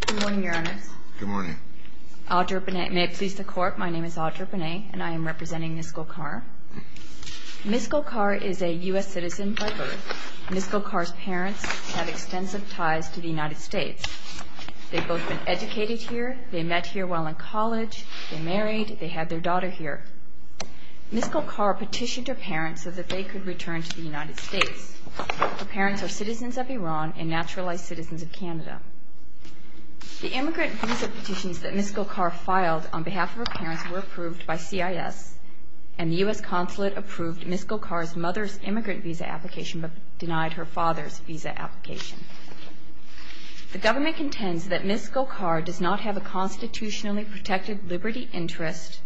Good morning, Your Honors. Good morning. Audre Bonnet. May it please the Court, my name is Audre Bonnet and I am representing Ms. Golkar. Ms. Golkar is a U.S. citizen by birth. Ms. Golkar's parents have extensive ties to the United States. They've both been educated here, they met here while in college, they're married, they have their daughter here. Ms. Golkar petitioned her parents so that they could return to the United States. Her parents are citizens of Iran and naturalized citizens of Canada. The immigrant visa petitions that Ms. Golkar filed on behalf of her parents were approved by CIS and the U.S. Consulate approved Ms. Golkar's mother's immigrant visa application but denied her father's visa application. The government contends that Ms. Golkar does not have a constitutionally protected liberty interest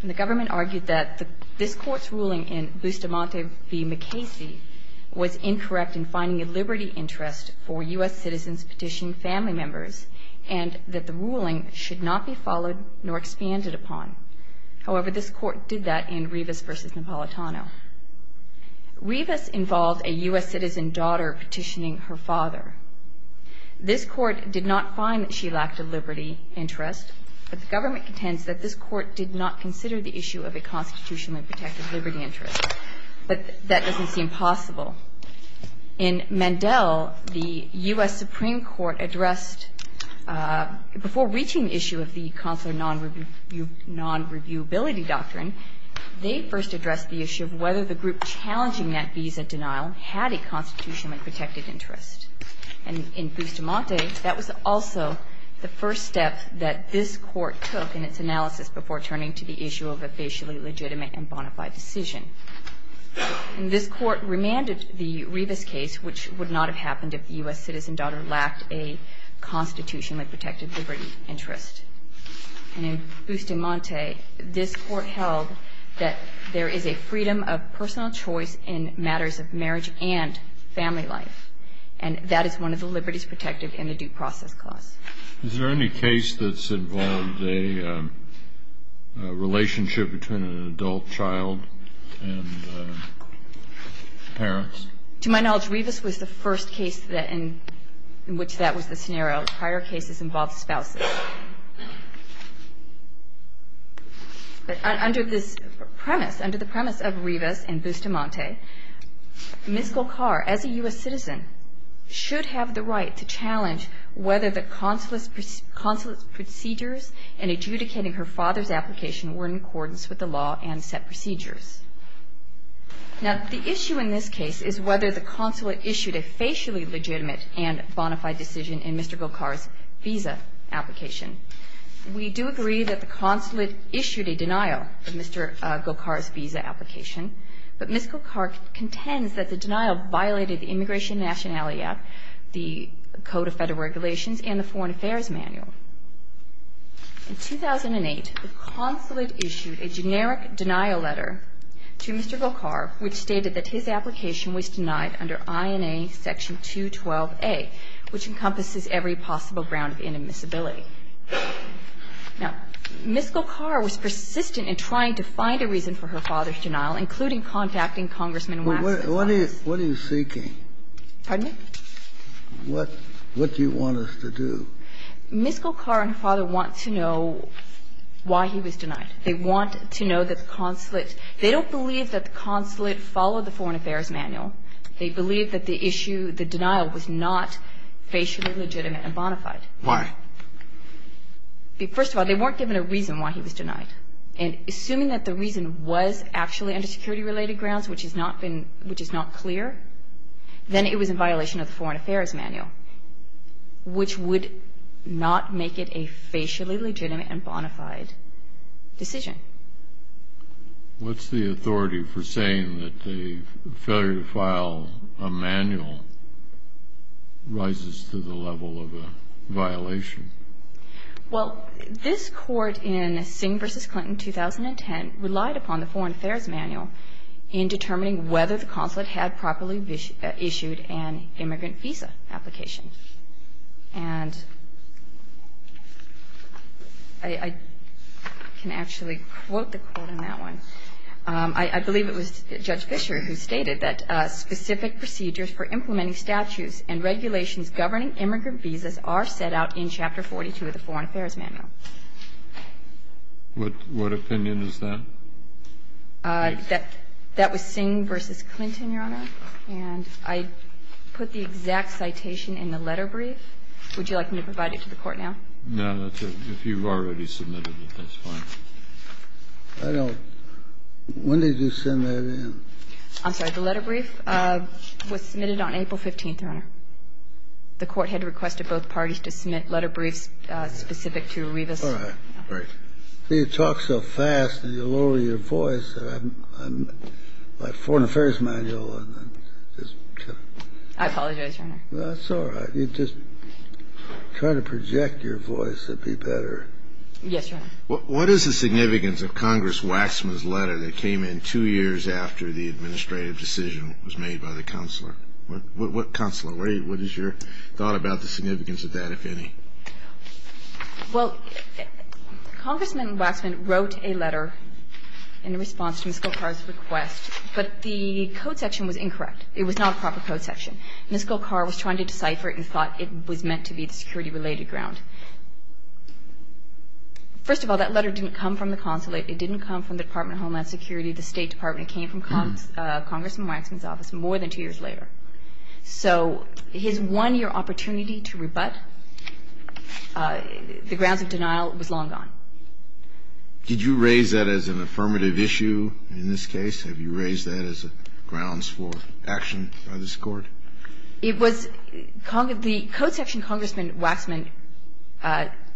and the government argued that this Court's ruling in Bustamante v. McKaysey was incorrect in finding a liberty interest for U.S. citizens petitioning family members and that the ruling should not be followed nor expanded upon. However, this Court did that in Rivas v. Napolitano. Rivas involved a U.S. citizen daughter petitioning her father. This Court did not find that she lacked a liberty interest but the government contends that this Court did not consider the issue of a constitutionally protected liberty interest. But that doesn't seem possible. In Mandel, the U.S. Supreme Court addressed before reaching the issue of the consular non-reviewability doctrine, they first addressed the issue of whether the group challenging that visa denial had a constitutionally protected interest. And in Bustamante, that was also the first step that this Court took in its analysis before turning to the issue of a facially legitimate and bona fide decision. And this Court remanded the Rivas case, which would not have happened if the U.S. citizen daughter lacked a constitutionally protected liberty interest. And in Bustamante, this Court held that there is a freedom of personal choice in matters of marriage and family life, and that is one of the liberties protected in the due process clause. Is there any case that's involved a relationship between an adult child and parents? To my knowledge, Rivas was the first case in which that was the scenario. Prior cases involved spouses. But under this premise, under the premise of Rivas and Bustamante, Ms. Golkar, as a U.S. citizen, should have the right to challenge whether the consulate's procedures in adjudicating her father's application were in accordance with the law and set procedures. Now, the issue in this case is whether the consulate issued a facially legitimate and bona fide decision in Mr. Golkar's visa application. We do agree that the consulate issued a denial of Mr. Golkar's visa application, but Ms. Golkar contends that the denial violated the Immigration and Nationality Act, the Code of Federal Regulations, and the Foreign Affairs Manual. In 2008, the consulate issued a generic denial letter to Mr. Golkar which stated that his application was denied under INA Section 212A, which encompasses every possible ground of inadmissibility. Now, Ms. Golkar was persistent in trying to find a reason for her father's denial, including contacting Congressman Waxman. What are you seeking? Pardon me? What do you want us to do? Ms. Golkar and her father want to know why he was denied. They want to know that the consulate – they don't believe that the consulate followed the Foreign Affairs Manual. They believe that the issue, the denial, was not facially legitimate and bona fide. Why? First of all, they weren't given a reason why he was denied. And assuming that the reason was actually under security-related grounds, which has not been – which is not clear, then it was in violation of the Foreign Affairs Manual, which would not make it a facially legitimate and bona fide decision. What's the authority for saying that a failure to file a manual rises to the level of a violation? Well, this court in Singh v. Clinton, 2010, relied upon the Foreign Affairs Manual in determining whether the consulate had properly issued an immigrant visa application. And I can actually quote the quote on that one. I believe it was Judge Fischer who stated that specific procedures for implementing statutes and regulations governing immigrant visas are set out in Chapter 42 of the Foreign Affairs Manual. What opinion is that? That was Singh v. Clinton, Your Honor. And I put the exact citation in the letter brief. Would you like me to provide it to the Court now? No, that's okay. If you've already submitted it, that's fine. I don't – when did you send that in? I'm sorry. The letter brief was submitted on April 15th, Your Honor. The Court had requested both parties to submit letter briefs specific to Revis. All right. Great. You talk so fast and you lower your voice that I'm – my Foreign Affairs Manual is just kind of – I apologize, Your Honor. That's all right. You just try to project your voice. It'd be better. Yes, Your Honor. What is the significance of Congress Waxman's letter that came in two years after the administrative decision was made by the Counselor? What Counselor? What is your thought about the significance of that, if any? Well, Congressman Waxman wrote a letter in response to Miskell Carr's request, but the code section was incorrect. It was not a proper code section. Miskell Carr was trying to decipher it and thought it was meant to be the security related ground. First of all, that letter didn't come from the Consulate. It didn't come from the Department of Homeland Security. The State Department. It came from Congressman Waxman's office more than two years later. So his one-year opportunity to rebut the grounds of denial was long gone. Did you raise that as an affirmative issue in this case? Have you raised that as grounds for action by this Court? It was the code section Congressman Waxman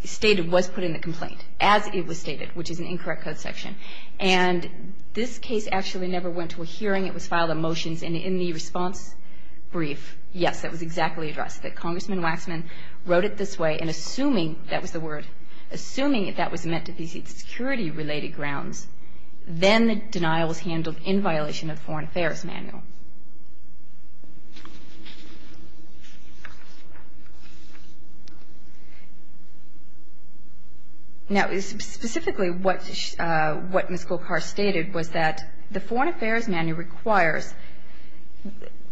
stated was put in the complaint, as it was stated, which is an incorrect code section. And this case actually never went to a hearing. It was filed on motions. And in the response brief, yes, that was exactly addressed, that Congressman Waxman wrote it this way, and assuming that was the word, assuming that was meant to be security related grounds, then the denial was handled in violation of the Foreign Affairs Manual. Now, specifically what Miskell Carr stated was that the Foreign Affairs Manual requires,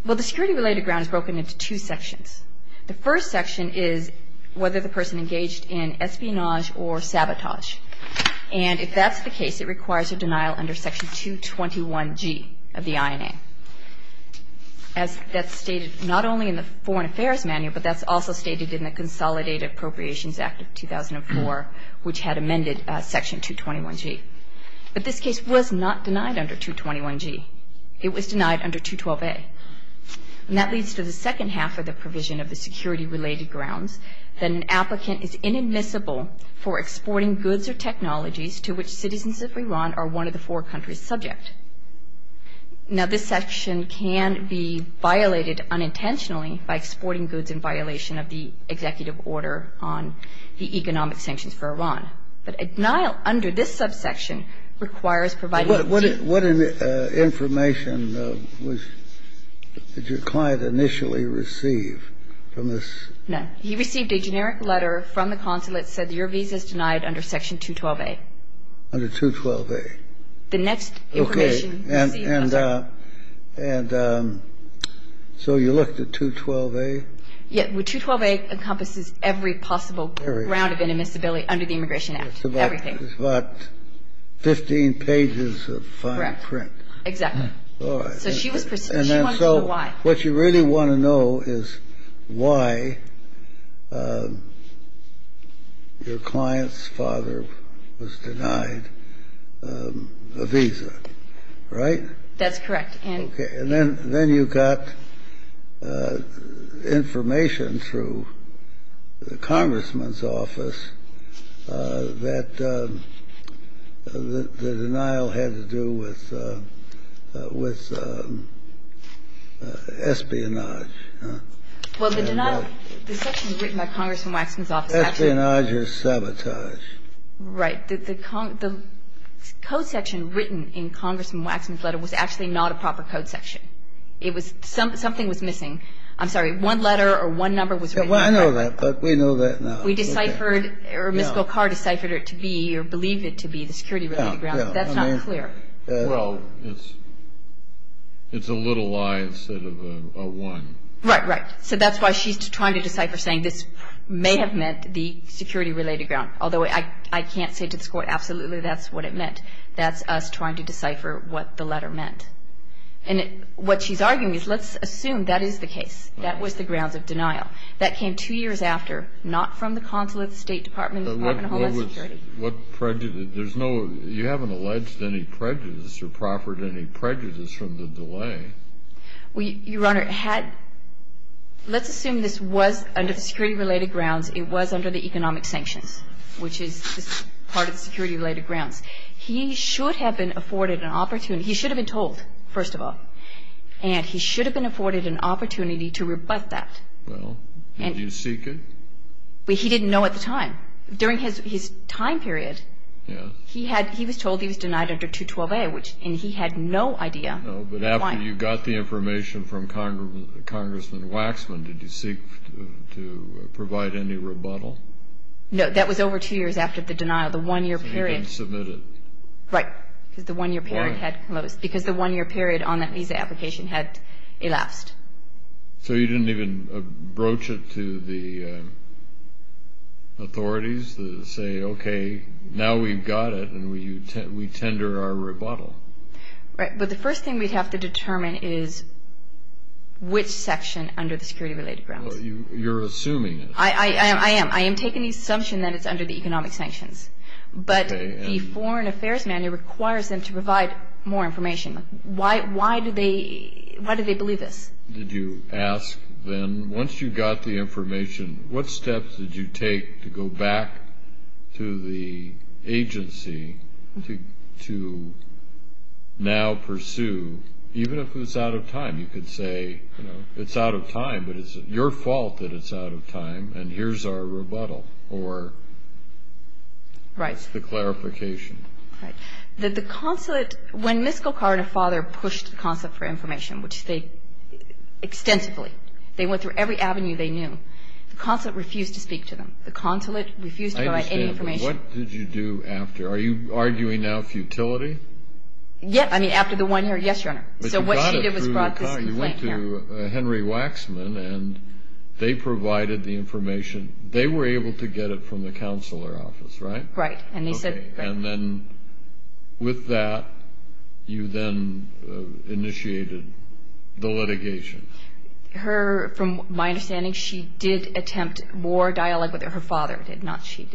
well, the security related ground is broken into two sections. The first section is whether the person engaged in espionage or sabotage. And if that's the case, it requires a denial under Section 221G of the INA. As that's stated not only in the Foreign Affairs Manual, but that's also stated in the Consolidated Appropriations Act of 2004, which had amended Section 221G. But this case was not denied under 221G. It was denied under 212A. And that leads to the second half of the provision of the security related grounds, that an applicant is inadmissible for exporting goods or technologies to which citizens of Iran are one of the four countries subject. Now, this section can be violated unintentionally by exporting goods in violation of the executive order on the economic sanctions for Iran. But a denial under this subsection requires providing the G. Kennedy, what information did your client initially receive from this? No. He received a generic letter from the consulate that said your visa is denied under Section 212A. Under 212A. The next information he received was that. Okay. And so you looked at 212A? Yeah. 212A encompasses every possible ground of inadmissibility under the Immigration Act. Everything. It's about 15 pages of fine print. Correct. Exactly. All right. So she wanted to know why. What you really want to know is why your client's father was denied a visa. Right? That's correct. And then you got information through the Congressman's office that the denial had to do with espionage. Well, the denial of the section written by Congressman Waxman's office. Espionage is sabotage. Right. The code section written in Congressman Waxman's letter was actually not a proper code section. It was something was missing. I'm sorry. One letter or one number was written. I know that, but we know that now. We deciphered or Ms. Golkar deciphered it to be or believed it to be the security-related ground. That's not clear. Well, it's a little lie instead of a one. Right, right. So that's why she's trying to decipher saying this may have meant the security-related ground. Although I can't say to this Court absolutely that's what it meant. That's us trying to decipher what the letter meant. And what she's arguing is let's assume that is the case. That was the grounds of denial. That came two years after, not from the consulate, the State Department, the Department of Homeland Security. What prejudice? You haven't alleged any prejudice or proffered any prejudice from the delay. Well, Your Honor, let's assume this was under the security-related grounds. It was under the economic sanctions, which is part of the security-related grounds. He should have been afforded an opportunity. He should have been told, first of all. And he should have been afforded an opportunity to rebut that. Well, did you seek it? He didn't know at the time. During his time period, he was told he was denied under 212A, and he had no idea why. No, but after you got the information from Congressman Waxman, did you seek to provide any rebuttal? No, that was over two years after the denial. The one-year period. So you didn't submit it. Right, because the one-year period had closed. Why? Because the one-year period on that visa application had elapsed. So you didn't even broach it to the authorities to say, okay, now we've got it, and we tender our rebuttal. Right, but the first thing we'd have to determine is which section under the security-related grounds. Well, you're assuming it. I am. I am taking the assumption that it's under the economic sanctions. Okay. But the Foreign Affairs Manual requires them to provide more information. Why do they believe this? Did you ask then, once you got the information, what steps did you take to go back to the agency to now pursue, even if it was out of time? You could say, you know, it's out of time, but it's your fault that it's out of time, and here's our rebuttal or the clarification. Right. The consulate, when Ms. Golkar and her father pushed the consulate for information, which they extensively, they went through every avenue they knew, the consulate refused to speak to them. The consulate refused to provide any information. I understand. What did you do after? Are you arguing now futility? Yes. I mean, after the one-year? So what she did was brought this complaint here. But you got it through the consulate. You went to Henry Waxman, and they provided the information. They were able to get it from the consular office, right? Right. And then with that, you then initiated the litigation. From my understanding, she did attempt more dialogue with her father.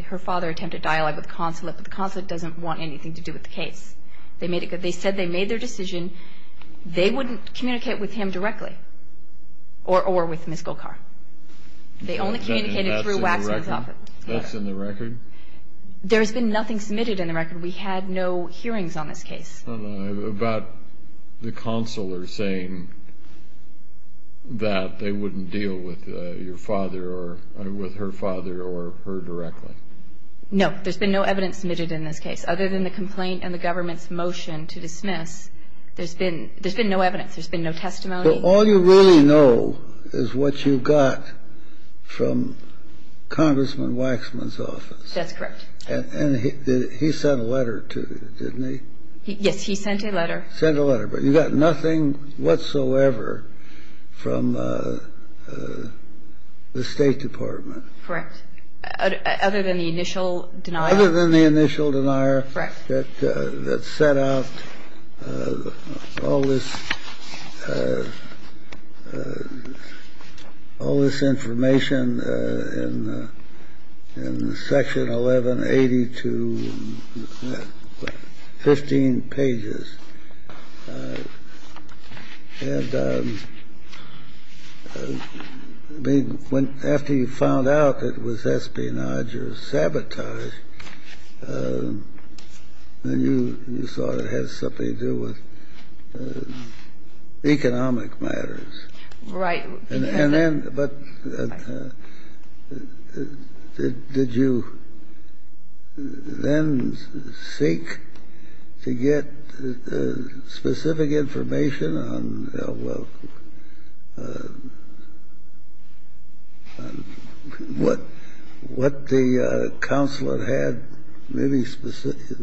Her father attempted dialogue with the consulate, but the consulate doesn't want anything to do with the case. They said they made their decision. They wouldn't communicate with him directly or with Ms. Golkar. They only communicated through Waxman's office. That's in the record? There has been nothing submitted in the record. We had no hearings on this case. About the consular saying that they wouldn't deal with your father or with her father or her directly? No. There's been no evidence submitted in this case. Other than the complaint and the government's motion to dismiss, there's been no evidence. There's been no testimony. So all you really know is what you got from Congressman Waxman's office. That's correct. And he sent a letter to you, didn't he? Yes, he sent a letter. Sent a letter. But you got nothing whatsoever from the State Department. Correct. Other than the initial denial. Other than the initial denial. Correct. That set out all this information in Section 1180 to 15 pages. And after you found out that it was espionage or sabotage, then you saw it had something to do with economic matters. Right. And then, but did you then seek to get specific information on, well, what the consular had? Anything specific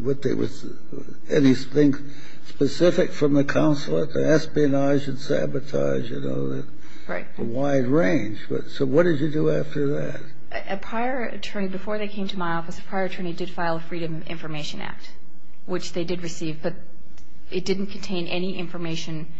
from the consulate to espionage and sabotage, you know? Right. A wide range. So what did you do after that? A prior attorney, before they came to my office, a prior attorney did file a Freedom of Information Act, which they did receive. But it didn't contain any information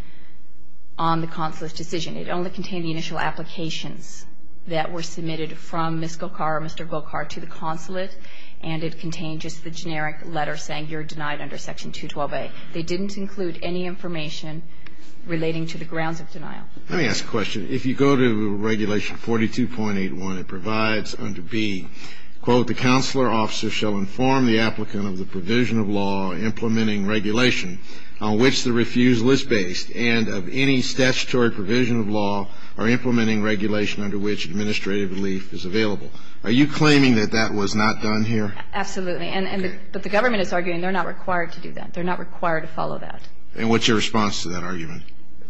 on the consulate's decision. It only contained the initial applications that were submitted from Ms. Golkar or Mr. Golkar to the consulate. And it contained just the generic letter saying you're denied under Section 212A. They didn't include any information relating to the grounds of denial. Let me ask a question. If you go to Regulation 42.81, it provides under B, quote, the consular officer shall inform the applicant of the provision of law implementing regulation on which the refusal is based and of any statutory provision of law or implementing regulation under which administrative relief is available. Are you claiming that that was not done here? Absolutely. But the government is arguing they're not required to do that. They're not required to follow that. And what's your response to that argument?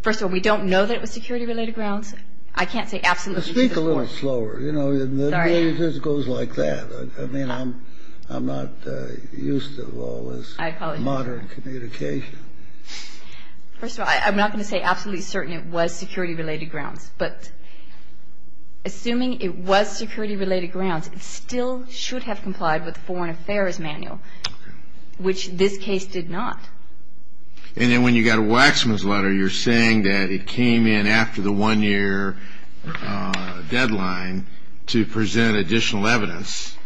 First of all, we don't know that it was security-related grounds. I can't say absolutely. Speak a little slower. Sorry. It just goes like that. I mean, I'm not used to all this modern communication. First of all, I'm not going to say absolutely certain it was security-related grounds. But assuming it was security-related grounds, it still should have complied with the Foreign Affairs Manual, which this case did not. And then when you got Waxman's letter, you're saying that it came in after the one-year deadline to present additional evidence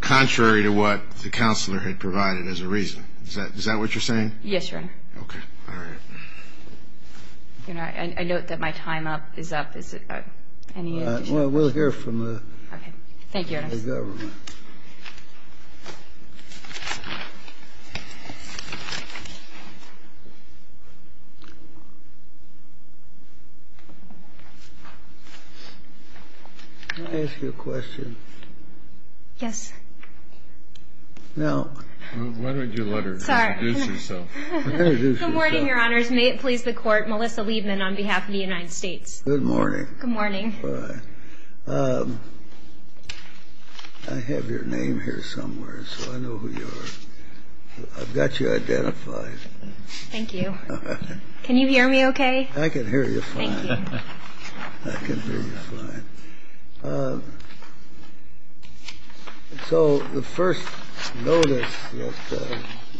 contrary to what the consular had provided as a reason. Is that what you're saying? Yes, Your Honor. Okay. All right. I note that my time is up. Is there any additional questions? Well, we'll hear from the government. Okay. Thank you, Your Honor. Can I ask you a question? Yes. No. Why don't you let her introduce herself? Good morning, Your Honors. May it please the Court, Melissa Liebman on behalf of the United States. Good morning. Good morning. All right. I have your name here somewhere, so I know who you are. I've got you identified. Thank you. Can you hear me okay? I can hear you fine. Thank you. I can hear you fine. So the first notice that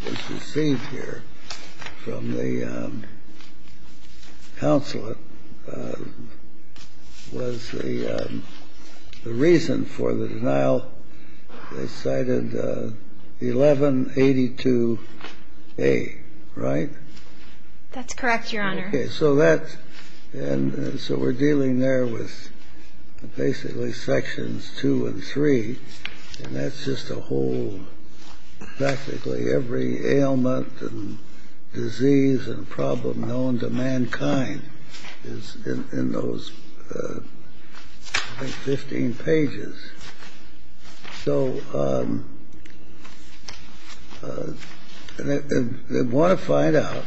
was received here from the consulate was the reason for the denial. They cited 1182A, right? That's correct, Your Honor. And so we're dealing there with basically Sections 2 and 3, and that's just a whole, practically every ailment and disease and problem known to mankind is in those, I think, 15 pages. So they want to find out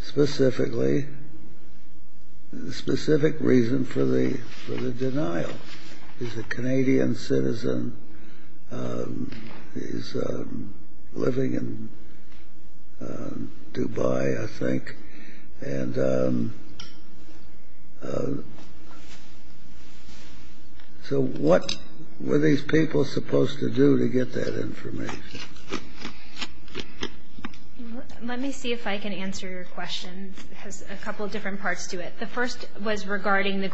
specifically the specific reason for the denial. He's a Canadian citizen. He's living in Dubai, I think. And so what were these people supposed to do to get that information? Let me see if I can answer your question. It has a couple of different parts to it. The first was regarding the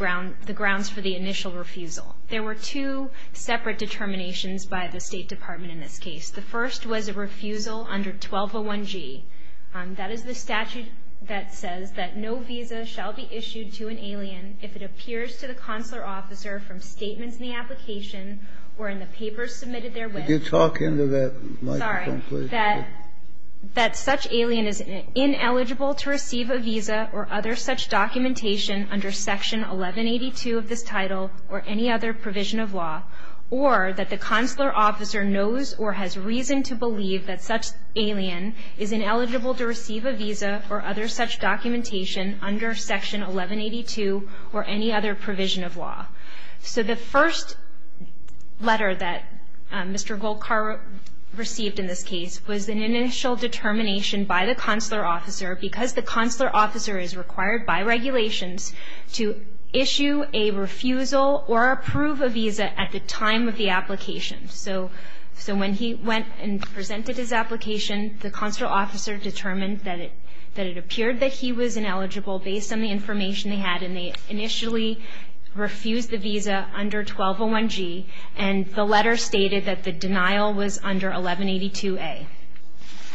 grounds for the initial refusal. There were two separate determinations by the State Department in this case. The first was a refusal under 1201G. That is the statute that says that no visa shall be issued to an alien if it appears to the consular officer from statements in the application or in the papers submitted therewith. Could you talk into that microphone, please? Sorry. That such alien is ineligible to receive a visa or other such documentation under Section 1182 of this title or any other provision of law, or that the consular officer knows or has reason to believe that such alien is ineligible to receive a visa or other such documentation under Section 1182 or any other provision of law. So the first letter that Mr. Golkar received in this case was an initial determination by the consular officer because the consular officer is required by regulations to issue a refusal or approve a visa at the time of the application. So when he went and presented his application, the consular officer determined that it appeared that he was ineligible based on the information they had, and they initially refused the visa under 1201G, and the letter stated that the denial was under 1182A.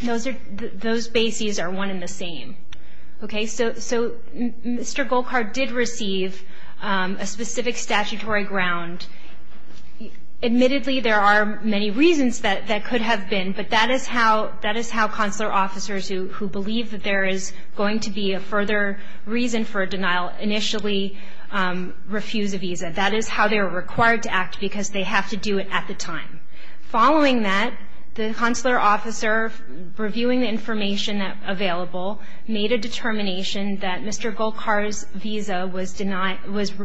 Those bases are one and the same. Okay, so Mr. Golkar did receive a specific statutory ground. Admittedly, there are many reasons that that could have been, but that is how consular officers who believe that there is going to be a further reason for a denial initially refuse a visa. That is how they are required to act because they have to do it at the time. Following that, the consular officer, reviewing the information available, made a determination that Mr. Golkar's visa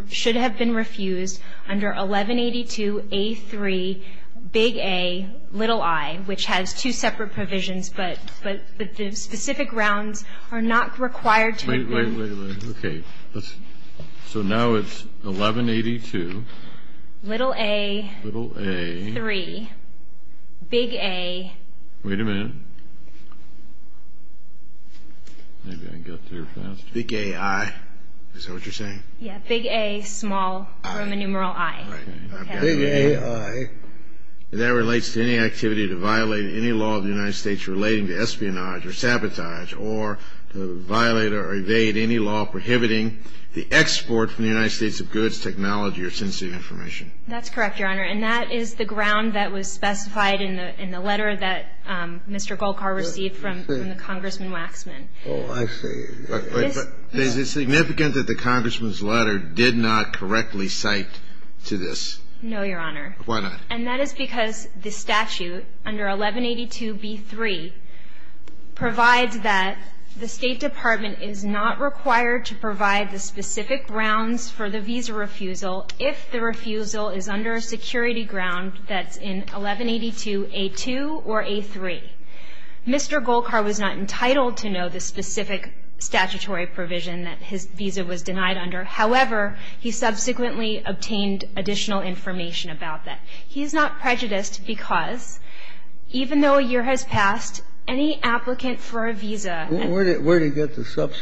should have been refused under 1182A3Ai, which has two separate provisions, but the specific grounds are not required to agree. Wait, wait, wait, wait. Okay. So now it's 1182. Little A. Little A. Three. Big A. Wait a minute. Maybe I can go through faster. Big AI. Is that what you're saying? Yeah. Big A, small, Roman numeral I. Okay. Big AI. That relates to any activity to violate any law of the United States relating to espionage or sabotage, or to violate or evade any law prohibiting the export from the United States of goods, technology, or sensitive information. That's correct, Your Honor. And that is the ground that was specified in the letter that Mr. Golkar received from the Congressman Waxman. Oh, I see. But is it significant that the Congressman's letter did not correctly cite to this? No, Your Honor. Why not? And that is because the statute under 1182B3 provides that the State Department is not required to provide the specific grounds for the visa refusal if the refusal is under a security ground that's in 1182A2 or A3. Mr. Golkar was not entitled to know the specific statutory provision that his visa was denied under. However, he subsequently obtained additional information about that. He's not prejudiced because, even though a year has passed, any applicant for a visa at that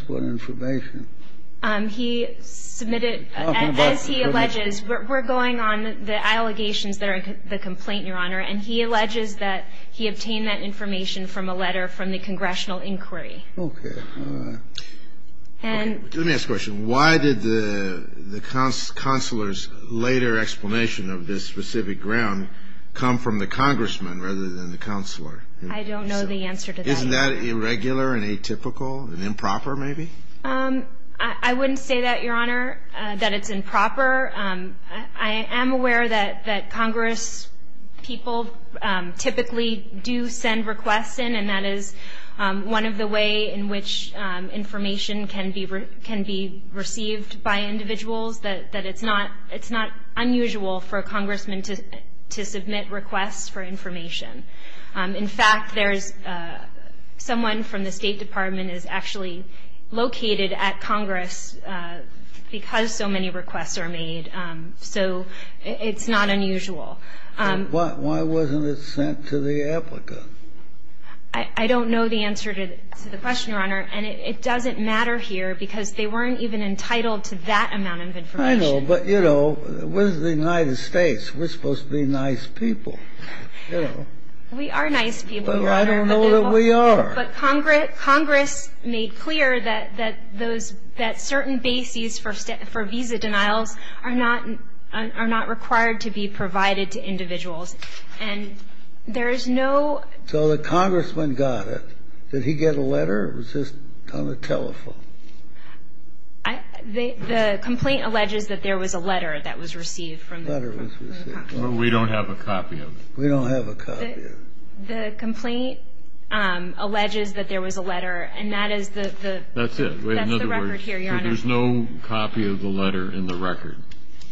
time. He submitted, as he alleges, we're going on the allegations that are in the complaint, Your Honor, and he alleges that he obtained that information from a letter from the congressional inquiry. Okay. Let me ask a question. Why did the consular's later explanation of this specific ground come from the Congressman rather than the consular? I don't know the answer to that. Isn't that irregular and atypical and improper maybe? I wouldn't say that, Your Honor, that it's improper. I am aware that congresspeople typically do send requests in, and that is one of the ways in which information can be received by individuals, that it's not unusual for a congressman to submit requests for information. In fact, there's someone from the State Department is actually located at Congress because so many requests are made. So it's not unusual. Why wasn't it sent to the applicant? I don't know the answer to the question, Your Honor, and it doesn't matter here because they weren't even entitled to that amount of information. I know, but, you know, we're the United States. We're supposed to be nice people. We are nice people, Your Honor. But I don't know that we are. But Congress made clear that certain bases for visa denials are not required to be provided to individuals. And there is no So the congressman got it. Did he get a letter or was this on the telephone? The complaint alleges that there was a letter that was received from the congressman. We don't have a copy of it. We don't have a copy of it. The complaint alleges that there was a letter, and that is the record here, Your Honor. There's no copy of the letter in the record.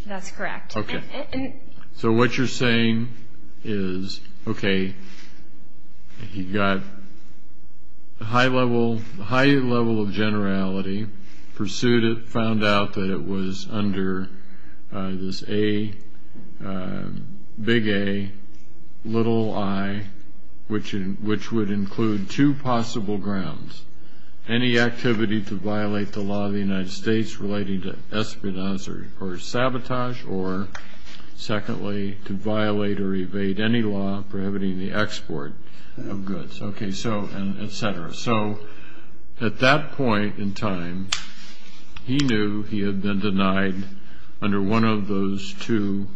That's correct. Okay. So what you're saying is, okay, he got a high level of generality, pursued it, found out that it was under this A, big A, little i, which would include two possible grounds, any activity to violate the law of the United States relating to espionage or sabotage, or, secondly, to violate or evade any law prohibiting the export of goods, et cetera. So at that point in time, he knew he had been denied under one of those two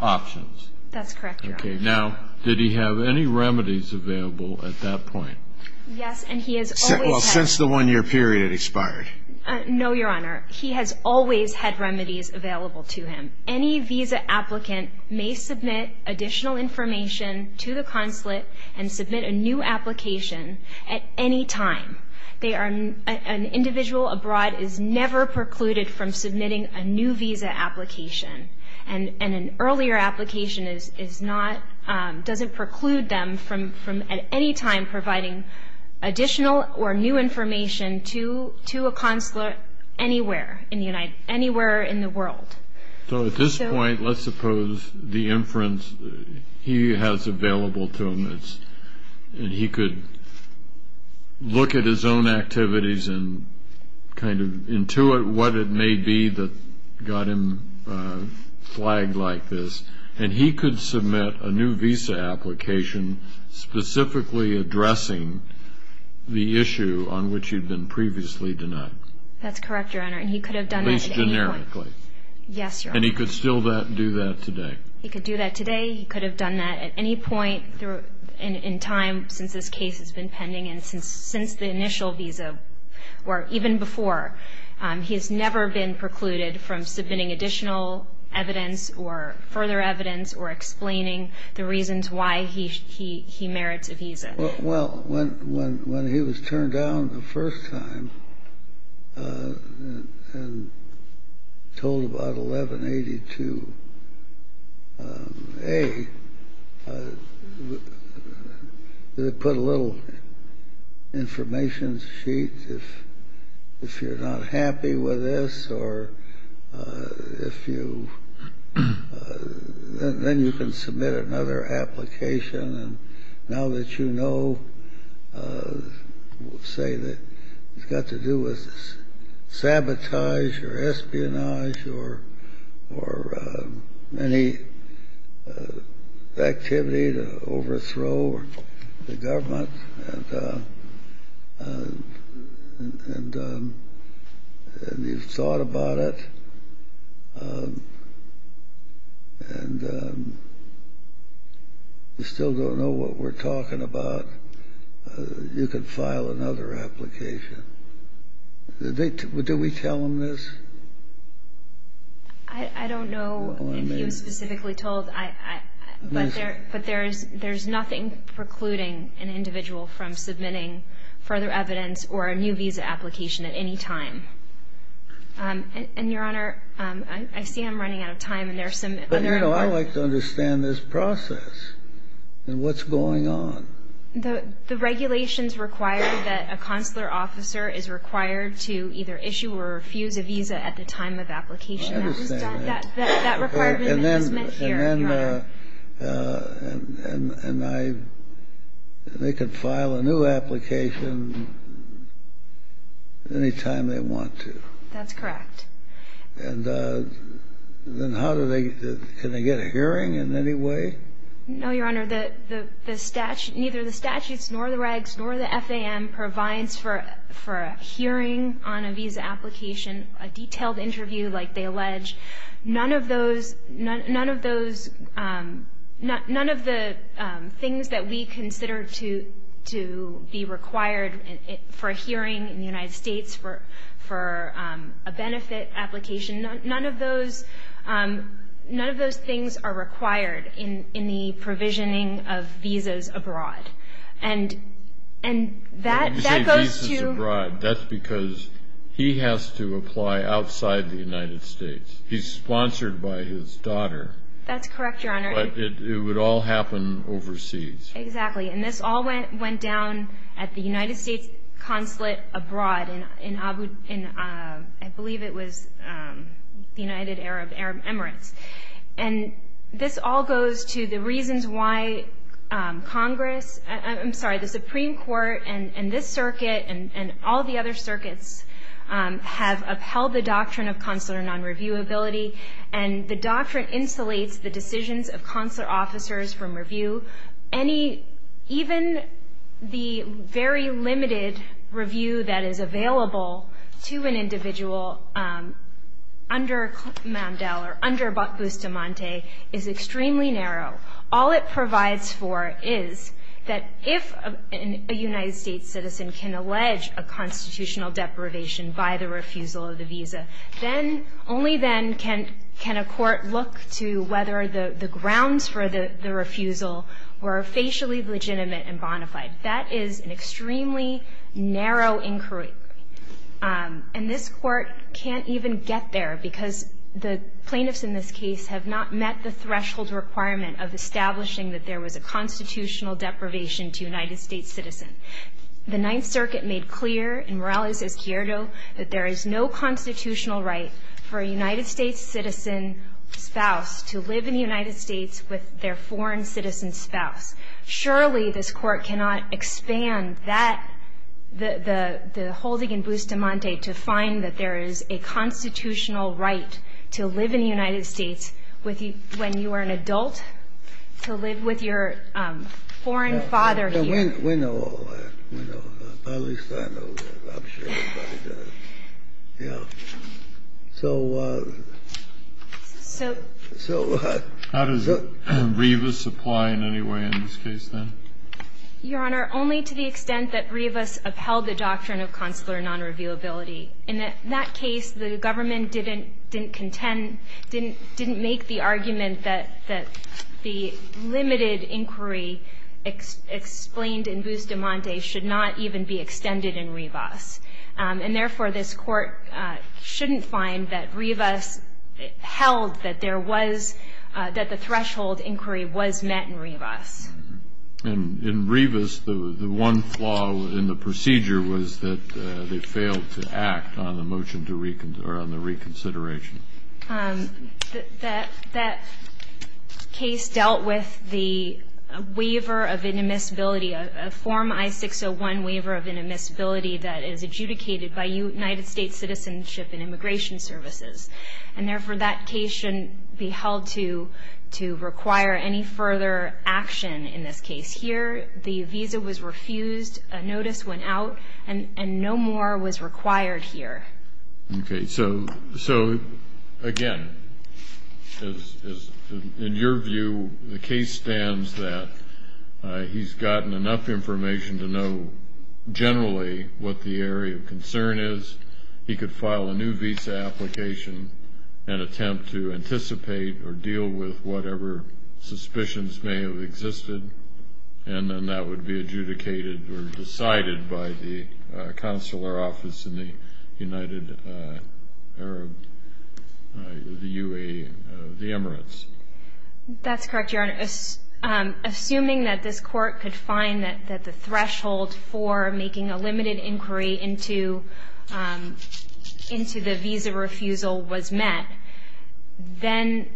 options. That's correct, Your Honor. Now, did he have any remedies available at that point? Yes, and he has always had. Well, since the one-year period expired. No, Your Honor. He has always had remedies available to him. Any visa applicant may submit additional information to the consulate and submit a new application at any time. An individual abroad is never precluded from submitting a new visa application, and an earlier application doesn't preclude them from at any time providing additional or new information to a consulate anywhere in the world. So at this point, let's suppose the inference he has available to him is that he could look at his own activities and kind of intuit what it may be that got him flagged like this, and he could submit a new visa application specifically addressing the issue on which he had been previously denied. That's correct, Your Honor, and he could have done that at any point. At least generically. Yes, Your Honor. And he could still do that today. He could do that today. He could have done that at any point in time since this case has been pending and since the initial visa or even before. He has never been precluded from submitting additional evidence or further evidence or explaining the reasons why he merits a visa. Well, when he was turned down the first time and told about 1182A, they put a little information sheet. If you're not happy with this or if you then you can submit another application. Now that you know, say that it's got to do with sabotage or espionage or any activity to overthrow the government, and you've thought about it and you still don't know what we're talking about, you could file another application. Do we tell them this? I don't know if he was specifically told, but there's nothing precluding an individual from submitting further evidence or a new visa application at any time. And, Your Honor, I see I'm running out of time. But, you know, I'd like to understand this process and what's going on. The regulations require that a consular officer is required to either issue or refuse a visa at the time of application. I understand that. That requirement has been met here, Your Honor. And they can file a new application any time they want to. That's correct. And then how do they get a hearing in any way? No, Your Honor. Neither the statutes nor the regs nor the FAM provides for a hearing on a visa application, a detailed interview like they allege. None of those, none of the things that we consider to be required for a hearing in the United States, for a benefit application, none of those things are required in the provisioning of visas abroad. And that goes to- When you say visas abroad, that's because he has to apply outside the United States. He's sponsored by his daughter. That's correct, Your Honor. But it would all happen overseas. Exactly. And this all went down at the United States consulate abroad in, I believe it was the United Arab Emirates. And this all goes to the reasons why Congress, I'm sorry, the Supreme Court and this circuit and all the other circuits have upheld the doctrine of consular non-reviewability. And the doctrine insulates the decisions of consular officers from review. Even the very limited review that is available to an individual under Mandel or under Bustamante is extremely narrow. All it provides for is that if a United States citizen can allege a constitutional deprivation by the refusal of the visa, only then can a court look to whether the grounds for the refusal were facially legitimate and bona fide. That is an extremely narrow inquiry. And this court can't even get there because the plaintiffs in this case have not met the threshold requirement of establishing that there was a constitutional deprivation to a United States citizen. The Ninth Circuit made clear in Morales v. Cierto that there is no constitutional right for a United States citizen spouse to live in the United States with their foreign citizen spouse. Surely this court cannot expand that, the holding in Bustamante to find that there is a constitutional right to live in the United States when you are an adult to live with your foreign father here. We know all that. We know that. At least I know that. I'm sure everybody does. Yeah. So... So... So... How does Rivas apply in any way in this case, then? Your Honor, only to the extent that Rivas upheld the doctrine of consular nonreviewability. In that case, the government didn't contend, didn't make the argument that the limited inquiry explained in Bustamante should not even be extended in Rivas. And therefore, this court shouldn't find that Rivas held that there was, that the threshold inquiry was met in Rivas. And in Rivas, the one flaw in the procedure was that they failed to act on the motion to reconsider, or on the reconsideration. That case dealt with the waiver of inadmissibility, a Form I-601 waiver of inadmissibility that is adjudicated by United States Citizenship and Immigration Services. And therefore, that case shouldn't be held to require any further action in this case. Here, the visa was refused, a notice went out, and no more was required here. Okay. So, again, in your view, the case stands that he's gotten enough information to know generally what the area of concern is. He could file a new visa application and attempt to anticipate or deal with whatever suspicions may have existed, and then that would be adjudicated or decided by the consular office in the United Arab, the UA, the Emirates. That's correct, Your Honor. Assuming that this court could find that the threshold for making a limited inquiry into the visa refusal was met, then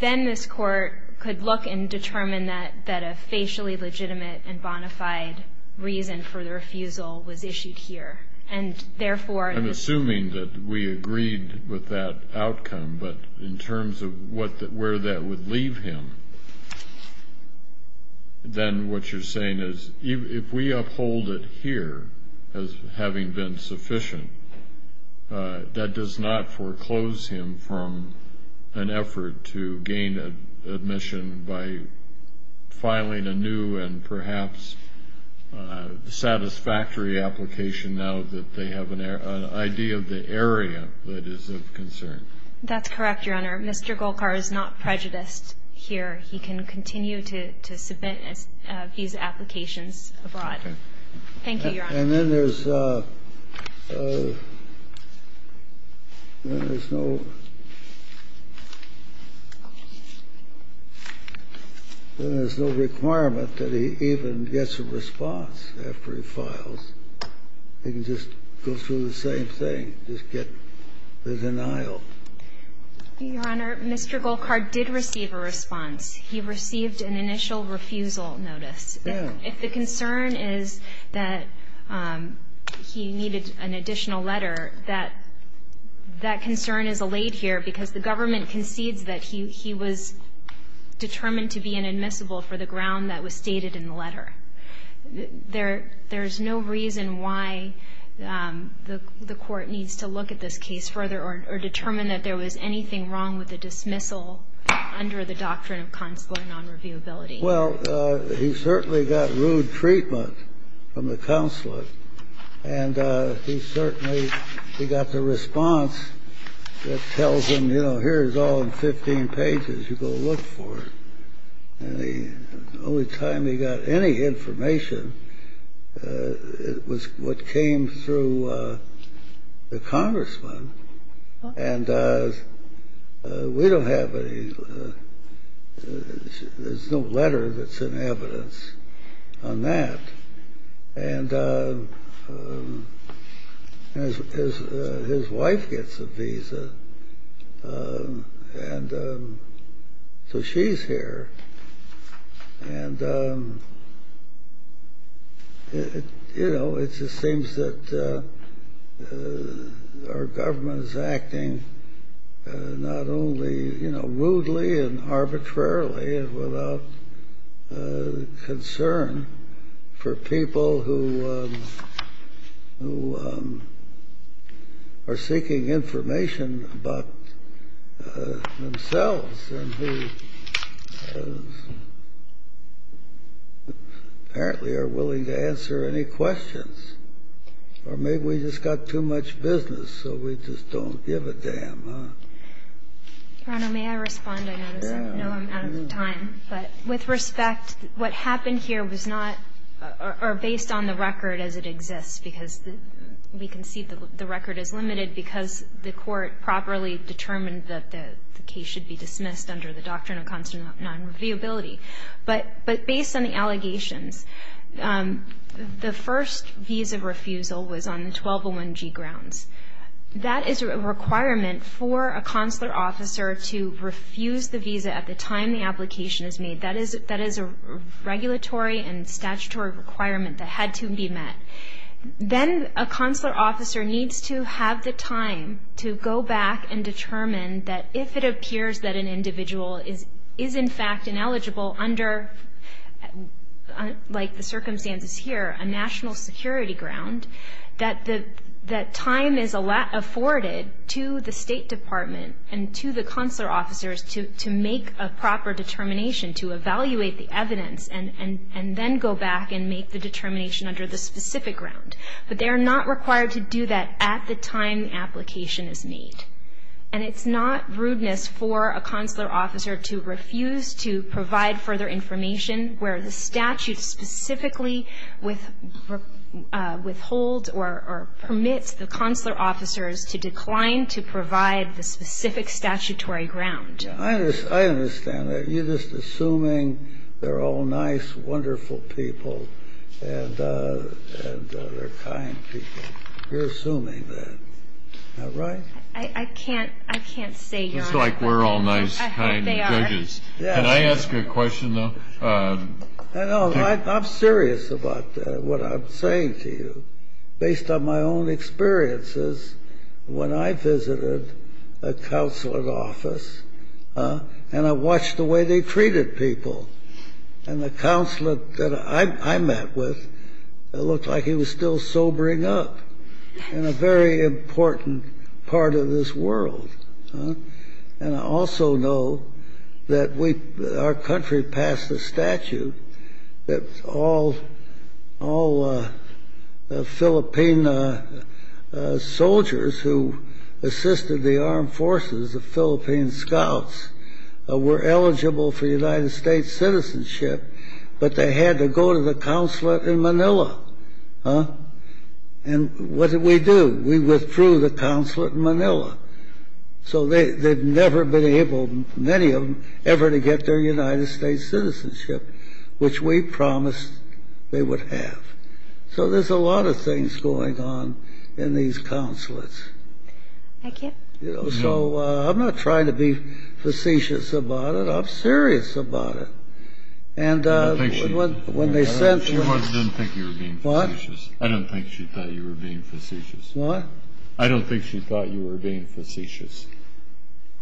this court could look and determine that a facially legitimate and bona fide reason for the refusal was issued here. I'm assuming that we agreed with that outcome, but in terms of where that would leave him, then what you're saying is if we uphold it here as having been sufficient, that does not foreclose him from an effort to gain admission by filing a new and perhaps satisfactory application now that they have an idea of the area that is of concern. That's correct, Your Honor. Mr. Golkar is not prejudiced here. He can continue to submit visa applications abroad. Thank you, Your Honor. And then there's no requirement that he even gets a response after he files. He can just go through the same thing, just get the denial. Your Honor, Mr. Golkar did receive a response. He received an initial refusal notice. If the concern is that he needed an additional letter, that concern is allayed here because the government concedes that he was determined to be inadmissible for the ground that was stated in the letter. There's no reason why the court needs to look at this case further or determine that there was anything wrong with the dismissal under the doctrine of consular nonreviewability. Well, he certainly got rude treatment from the consulate. And he certainly got the response that tells him, you know, here's all in 15 pages, you go look for it. And the only time he got any information was what came through the congressman. And we don't have any. There's no letter that's in evidence on that. And his wife gets a visa, and so she's here. And, you know, it just seems that our government is acting not only, you know, rudely and arbitrarily and without concern for people who are seeking information about themselves and who apparently are willing to answer any questions. Or maybe we just got too much business, so we just don't give a damn, huh? May I respond? I know I'm out of time. But with respect, what happened here was not or based on the record as it exists, because we can see the record is limited because the court properly determined that the case should be dismissed under the doctrine of consular nonreviewability. But based on the allegations, the first visa refusal was on the 1201G grounds. That is a requirement for a consular officer to refuse the visa at the time the application is made. That is a regulatory and statutory requirement that had to be met. Then a consular officer needs to have the time to go back and determine that if it appears that an individual is in fact ineligible under, like the circumstances here, a national security ground, that time is afforded to the State Department and to the consular officers to make a proper determination to evaluate the evidence and then go back and make the determination under the specific ground. But they are not required to do that at the time the application is made. And it's not rudeness for a consular officer to refuse to provide further information where the statute specifically withholds or permits the consular officers to decline to provide the specific statutory ground. I understand that. You're just assuming they're all nice, wonderful people and they're kind people. You're assuming that. Am I right? I can't say, Your Honor. It's like we're all nice, kind judges. I hope they are. Can I ask a question, though? I'm serious about what I'm saying to you. Based on my own experiences, when I visited a consulate office and I watched the way they treated people, and the consulate that I met with looked like he was still sobering up in a very important part of this world. And I also know that our country passed a statute that all Philippine soldiers who assisted the armed forces, the Philippine scouts, were eligible for United States citizenship, but they had to go to the consulate in Manila. And what did we do? We withdrew the consulate in Manila. So they'd never been able, many of them, ever to get their United States citizenship, which we promised they would have. So there's a lot of things going on in these consulates. Thank you. So I'm not trying to be facetious about it. I'm serious about it. I don't think she thought you were being facetious. What? I don't think she thought you were being facetious.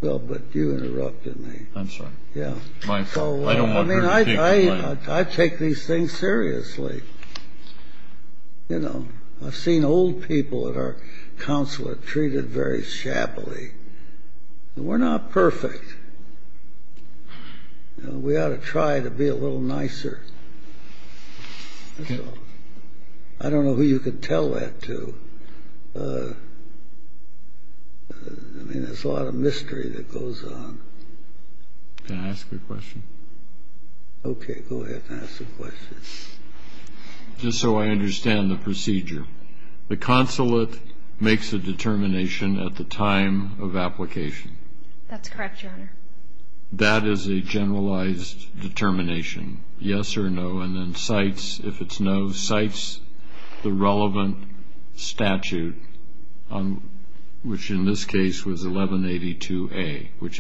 Well, but you interrupted me. I'm sorry. Yeah. I mean, I take these things seriously. You know, I've seen old people at our consulate treated very shabbily. We're not perfect. We ought to try to be a little nicer. That's all. I don't know who you could tell that to. I mean, there's a lot of mystery that goes on. Can I ask a question? Okay. Go ahead and ask the question. Just so I understand the procedure, the consulate makes a determination at the time of application. That's correct, Your Honor. That is a generalized determination. Yes or no, and then cites, if it's no, cites the relevant statute, which in this case was 1182A, which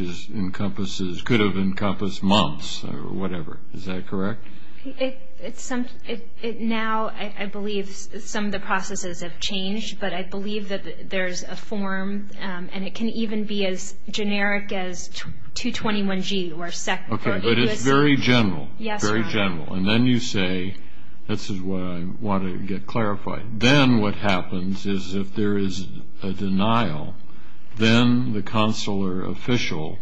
could have encompassed months or whatever. Is that correct? Now I believe some of the processes have changed, but I believe that there's a form, and it can even be as generic as 221G. Okay, but it's very general, very general. And then you say, this is what I want to get clarified, then what happens is if there is a denial, then the consular official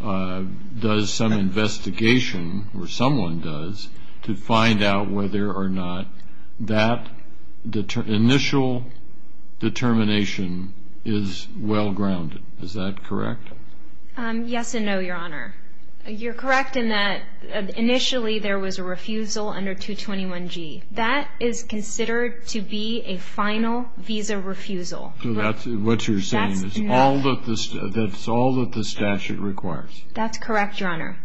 does some investigation, or someone does, to find out whether or not that initial determination is well-grounded. Is that correct? Yes and no, Your Honor. You're correct in that initially there was a refusal under 221G. That is considered to be a final visa refusal. So what you're saying is that's all that the statute requires? That's correct, Your Honor.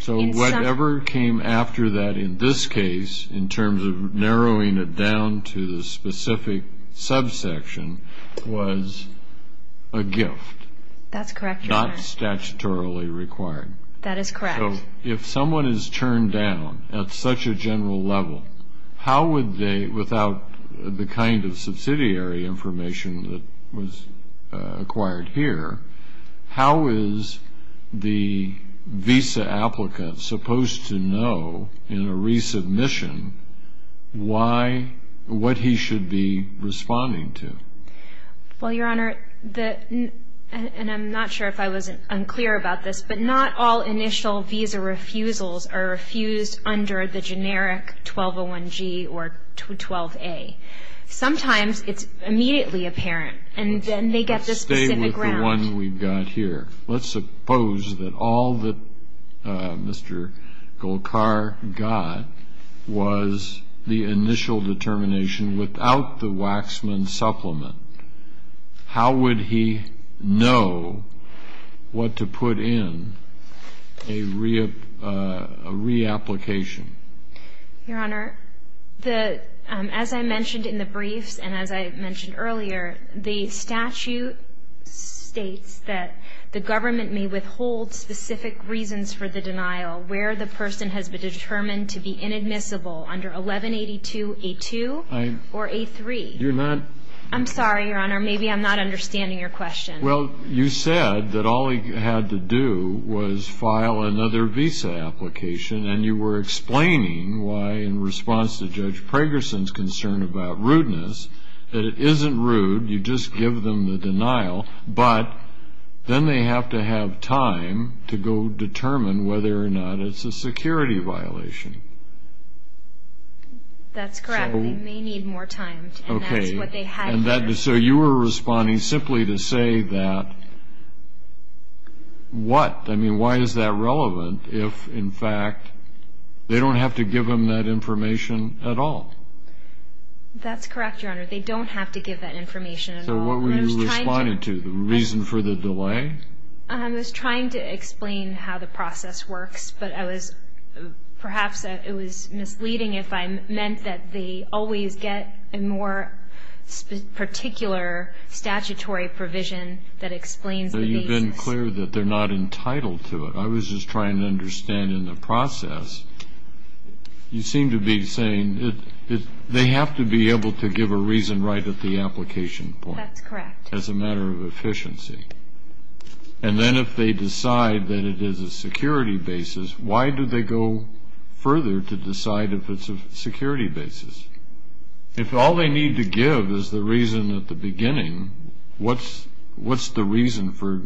So whatever came after that in this case, in terms of narrowing it down to the specific subsection, was a gift. That's correct, Your Honor. Not statutorily required. That is correct. So if someone is turned down at such a general level, how would they, without the kind of subsidiary information that was acquired here, how is the visa applicant supposed to know in a resubmission what he should be responding to? Well, Your Honor, and I'm not sure if I was unclear about this, but not all initial visa refusals are refused under the generic 1201G or 12A. Sometimes it's immediately apparent, and then they get the specific ground. Let's stay with the one we've got here. Let's suppose that all that Mr. Golkar got was the initial determination without the Waxman supplement. How would he know what to put in a reapplication? Your Honor, as I mentioned in the briefs and as I mentioned earlier, the statute states that the government may withhold specific reasons for the denial where the person has been determined to be inadmissible under 1182A2. I'm sorry, Your Honor, maybe I'm not understanding your question. Well, you said that all he had to do was file another visa application, and you were explaining why, in response to Judge Pragerson's concern about rudeness, that it isn't rude, you just give them the denial, but then they have to have time to go determine whether or not it's a security violation. That's correct. They may need more time, and that's what they had to do. Okay. And so you were responding simply to say that what? I mean, why is that relevant if, in fact, they don't have to give them that information at all? That's correct, Your Honor. They don't have to give that information at all. So what were you responding to, the reason for the delay? I was trying to explain how the process works, but I was perhaps it was misleading if I meant that they always get a more particular statutory provision that explains the basis. But you've been clear that they're not entitled to it. I was just trying to understand in the process. You seem to be saying they have to be able to give a reason right at the application point. That's correct. As a matter of efficiency. And then if they decide that it is a security basis, why do they go further to decide if it's a security basis? If all they need to give is the reason at the beginning, what's the reason for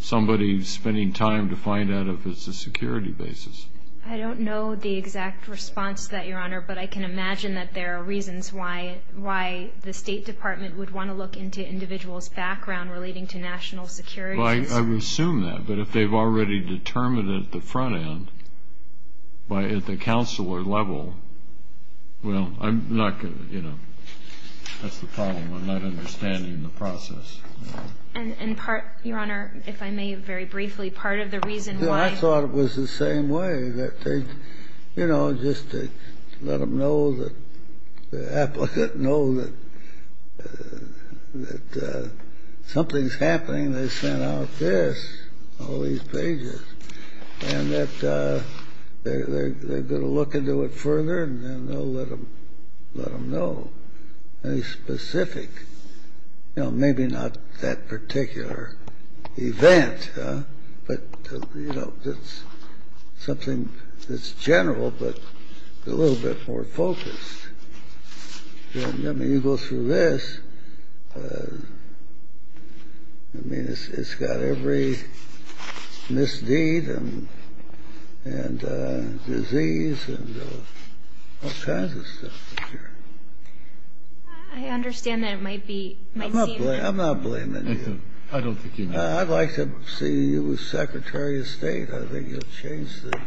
somebody spending time to find out if it's a security basis? I don't know the exact response to that, Your Honor, but I can imagine that there are reasons why the State Department would want to look into individuals' background relating to national security. Well, I would assume that. But if they've already determined it at the front end, at the counselor level, well, I'm not going to, you know, that's the problem. I'm not understanding the process. And part, Your Honor, if I may very briefly, part of the reason why. I thought it was the same way, that they, you know, just to let them know that the applicant knows that something's happening, they sent out this, all these pages, and that they're going to look into it further and then they'll let them know. And it's specific. You know, maybe not that particular event, but, you know, it's something that's general, but a little bit more focused. I mean, you go through this, I mean, it's got every misdeed and disease and all kinds of stuff in here. I understand that it might be, might seem. I'm not blaming you. I don't think you need to. I'd like to see you as Secretary of State. I think you'll change the.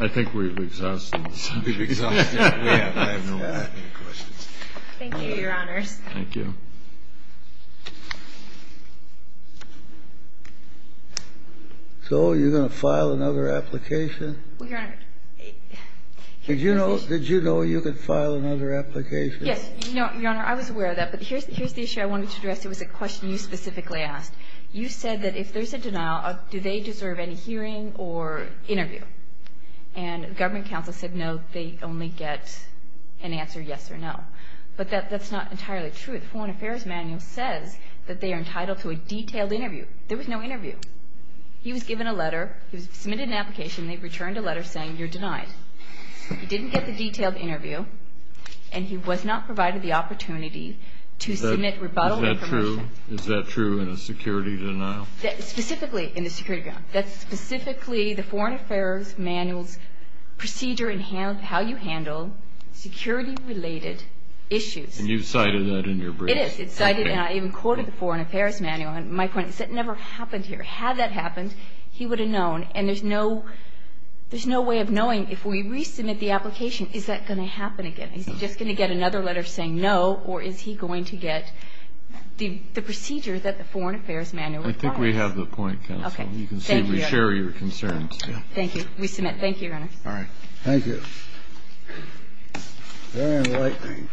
I think we've exhausted the subject. We've exhausted it. I have no more questions. Thank you, Your Honors. Thank you. So you're going to file another application? Well, Your Honor. Did you know you could file another application? Yes. Your Honor, I was aware of that. But here's the issue I wanted to address. It was a question you specifically asked. You said that if there's a denial, do they deserve any hearing or interview? And the government counsel said no, they only get an answer yes or no. But that's not entirely true. The Foreign Affairs Manual says that they are entitled to a detailed interview. There was no interview. He was given a letter. He was submitted an application, and they returned a letter saying you're denied. He didn't get the detailed interview, and he was not provided the opportunity to submit rebuttal information. Is that true? Is that true in a security denial? Specifically in a security denial. That's specifically the Foreign Affairs Manual's procedure in how you handle security-related issues. And you've cited that in your brief. It is. It's cited, and I even quoted the Foreign Affairs Manual. And my point is that never happened here. Had that happened, he would have known. And there's no way of knowing if we resubmit the application, is that going to happen again? Is he just going to get another letter saying no, or is he going to get the procedure that the Foreign Affairs Manual requires? I think we have the point, Counsel. Okay. Thank you. Thank you. We submit. Thank you, Your Honor. All right. Thank you. Very enlightening.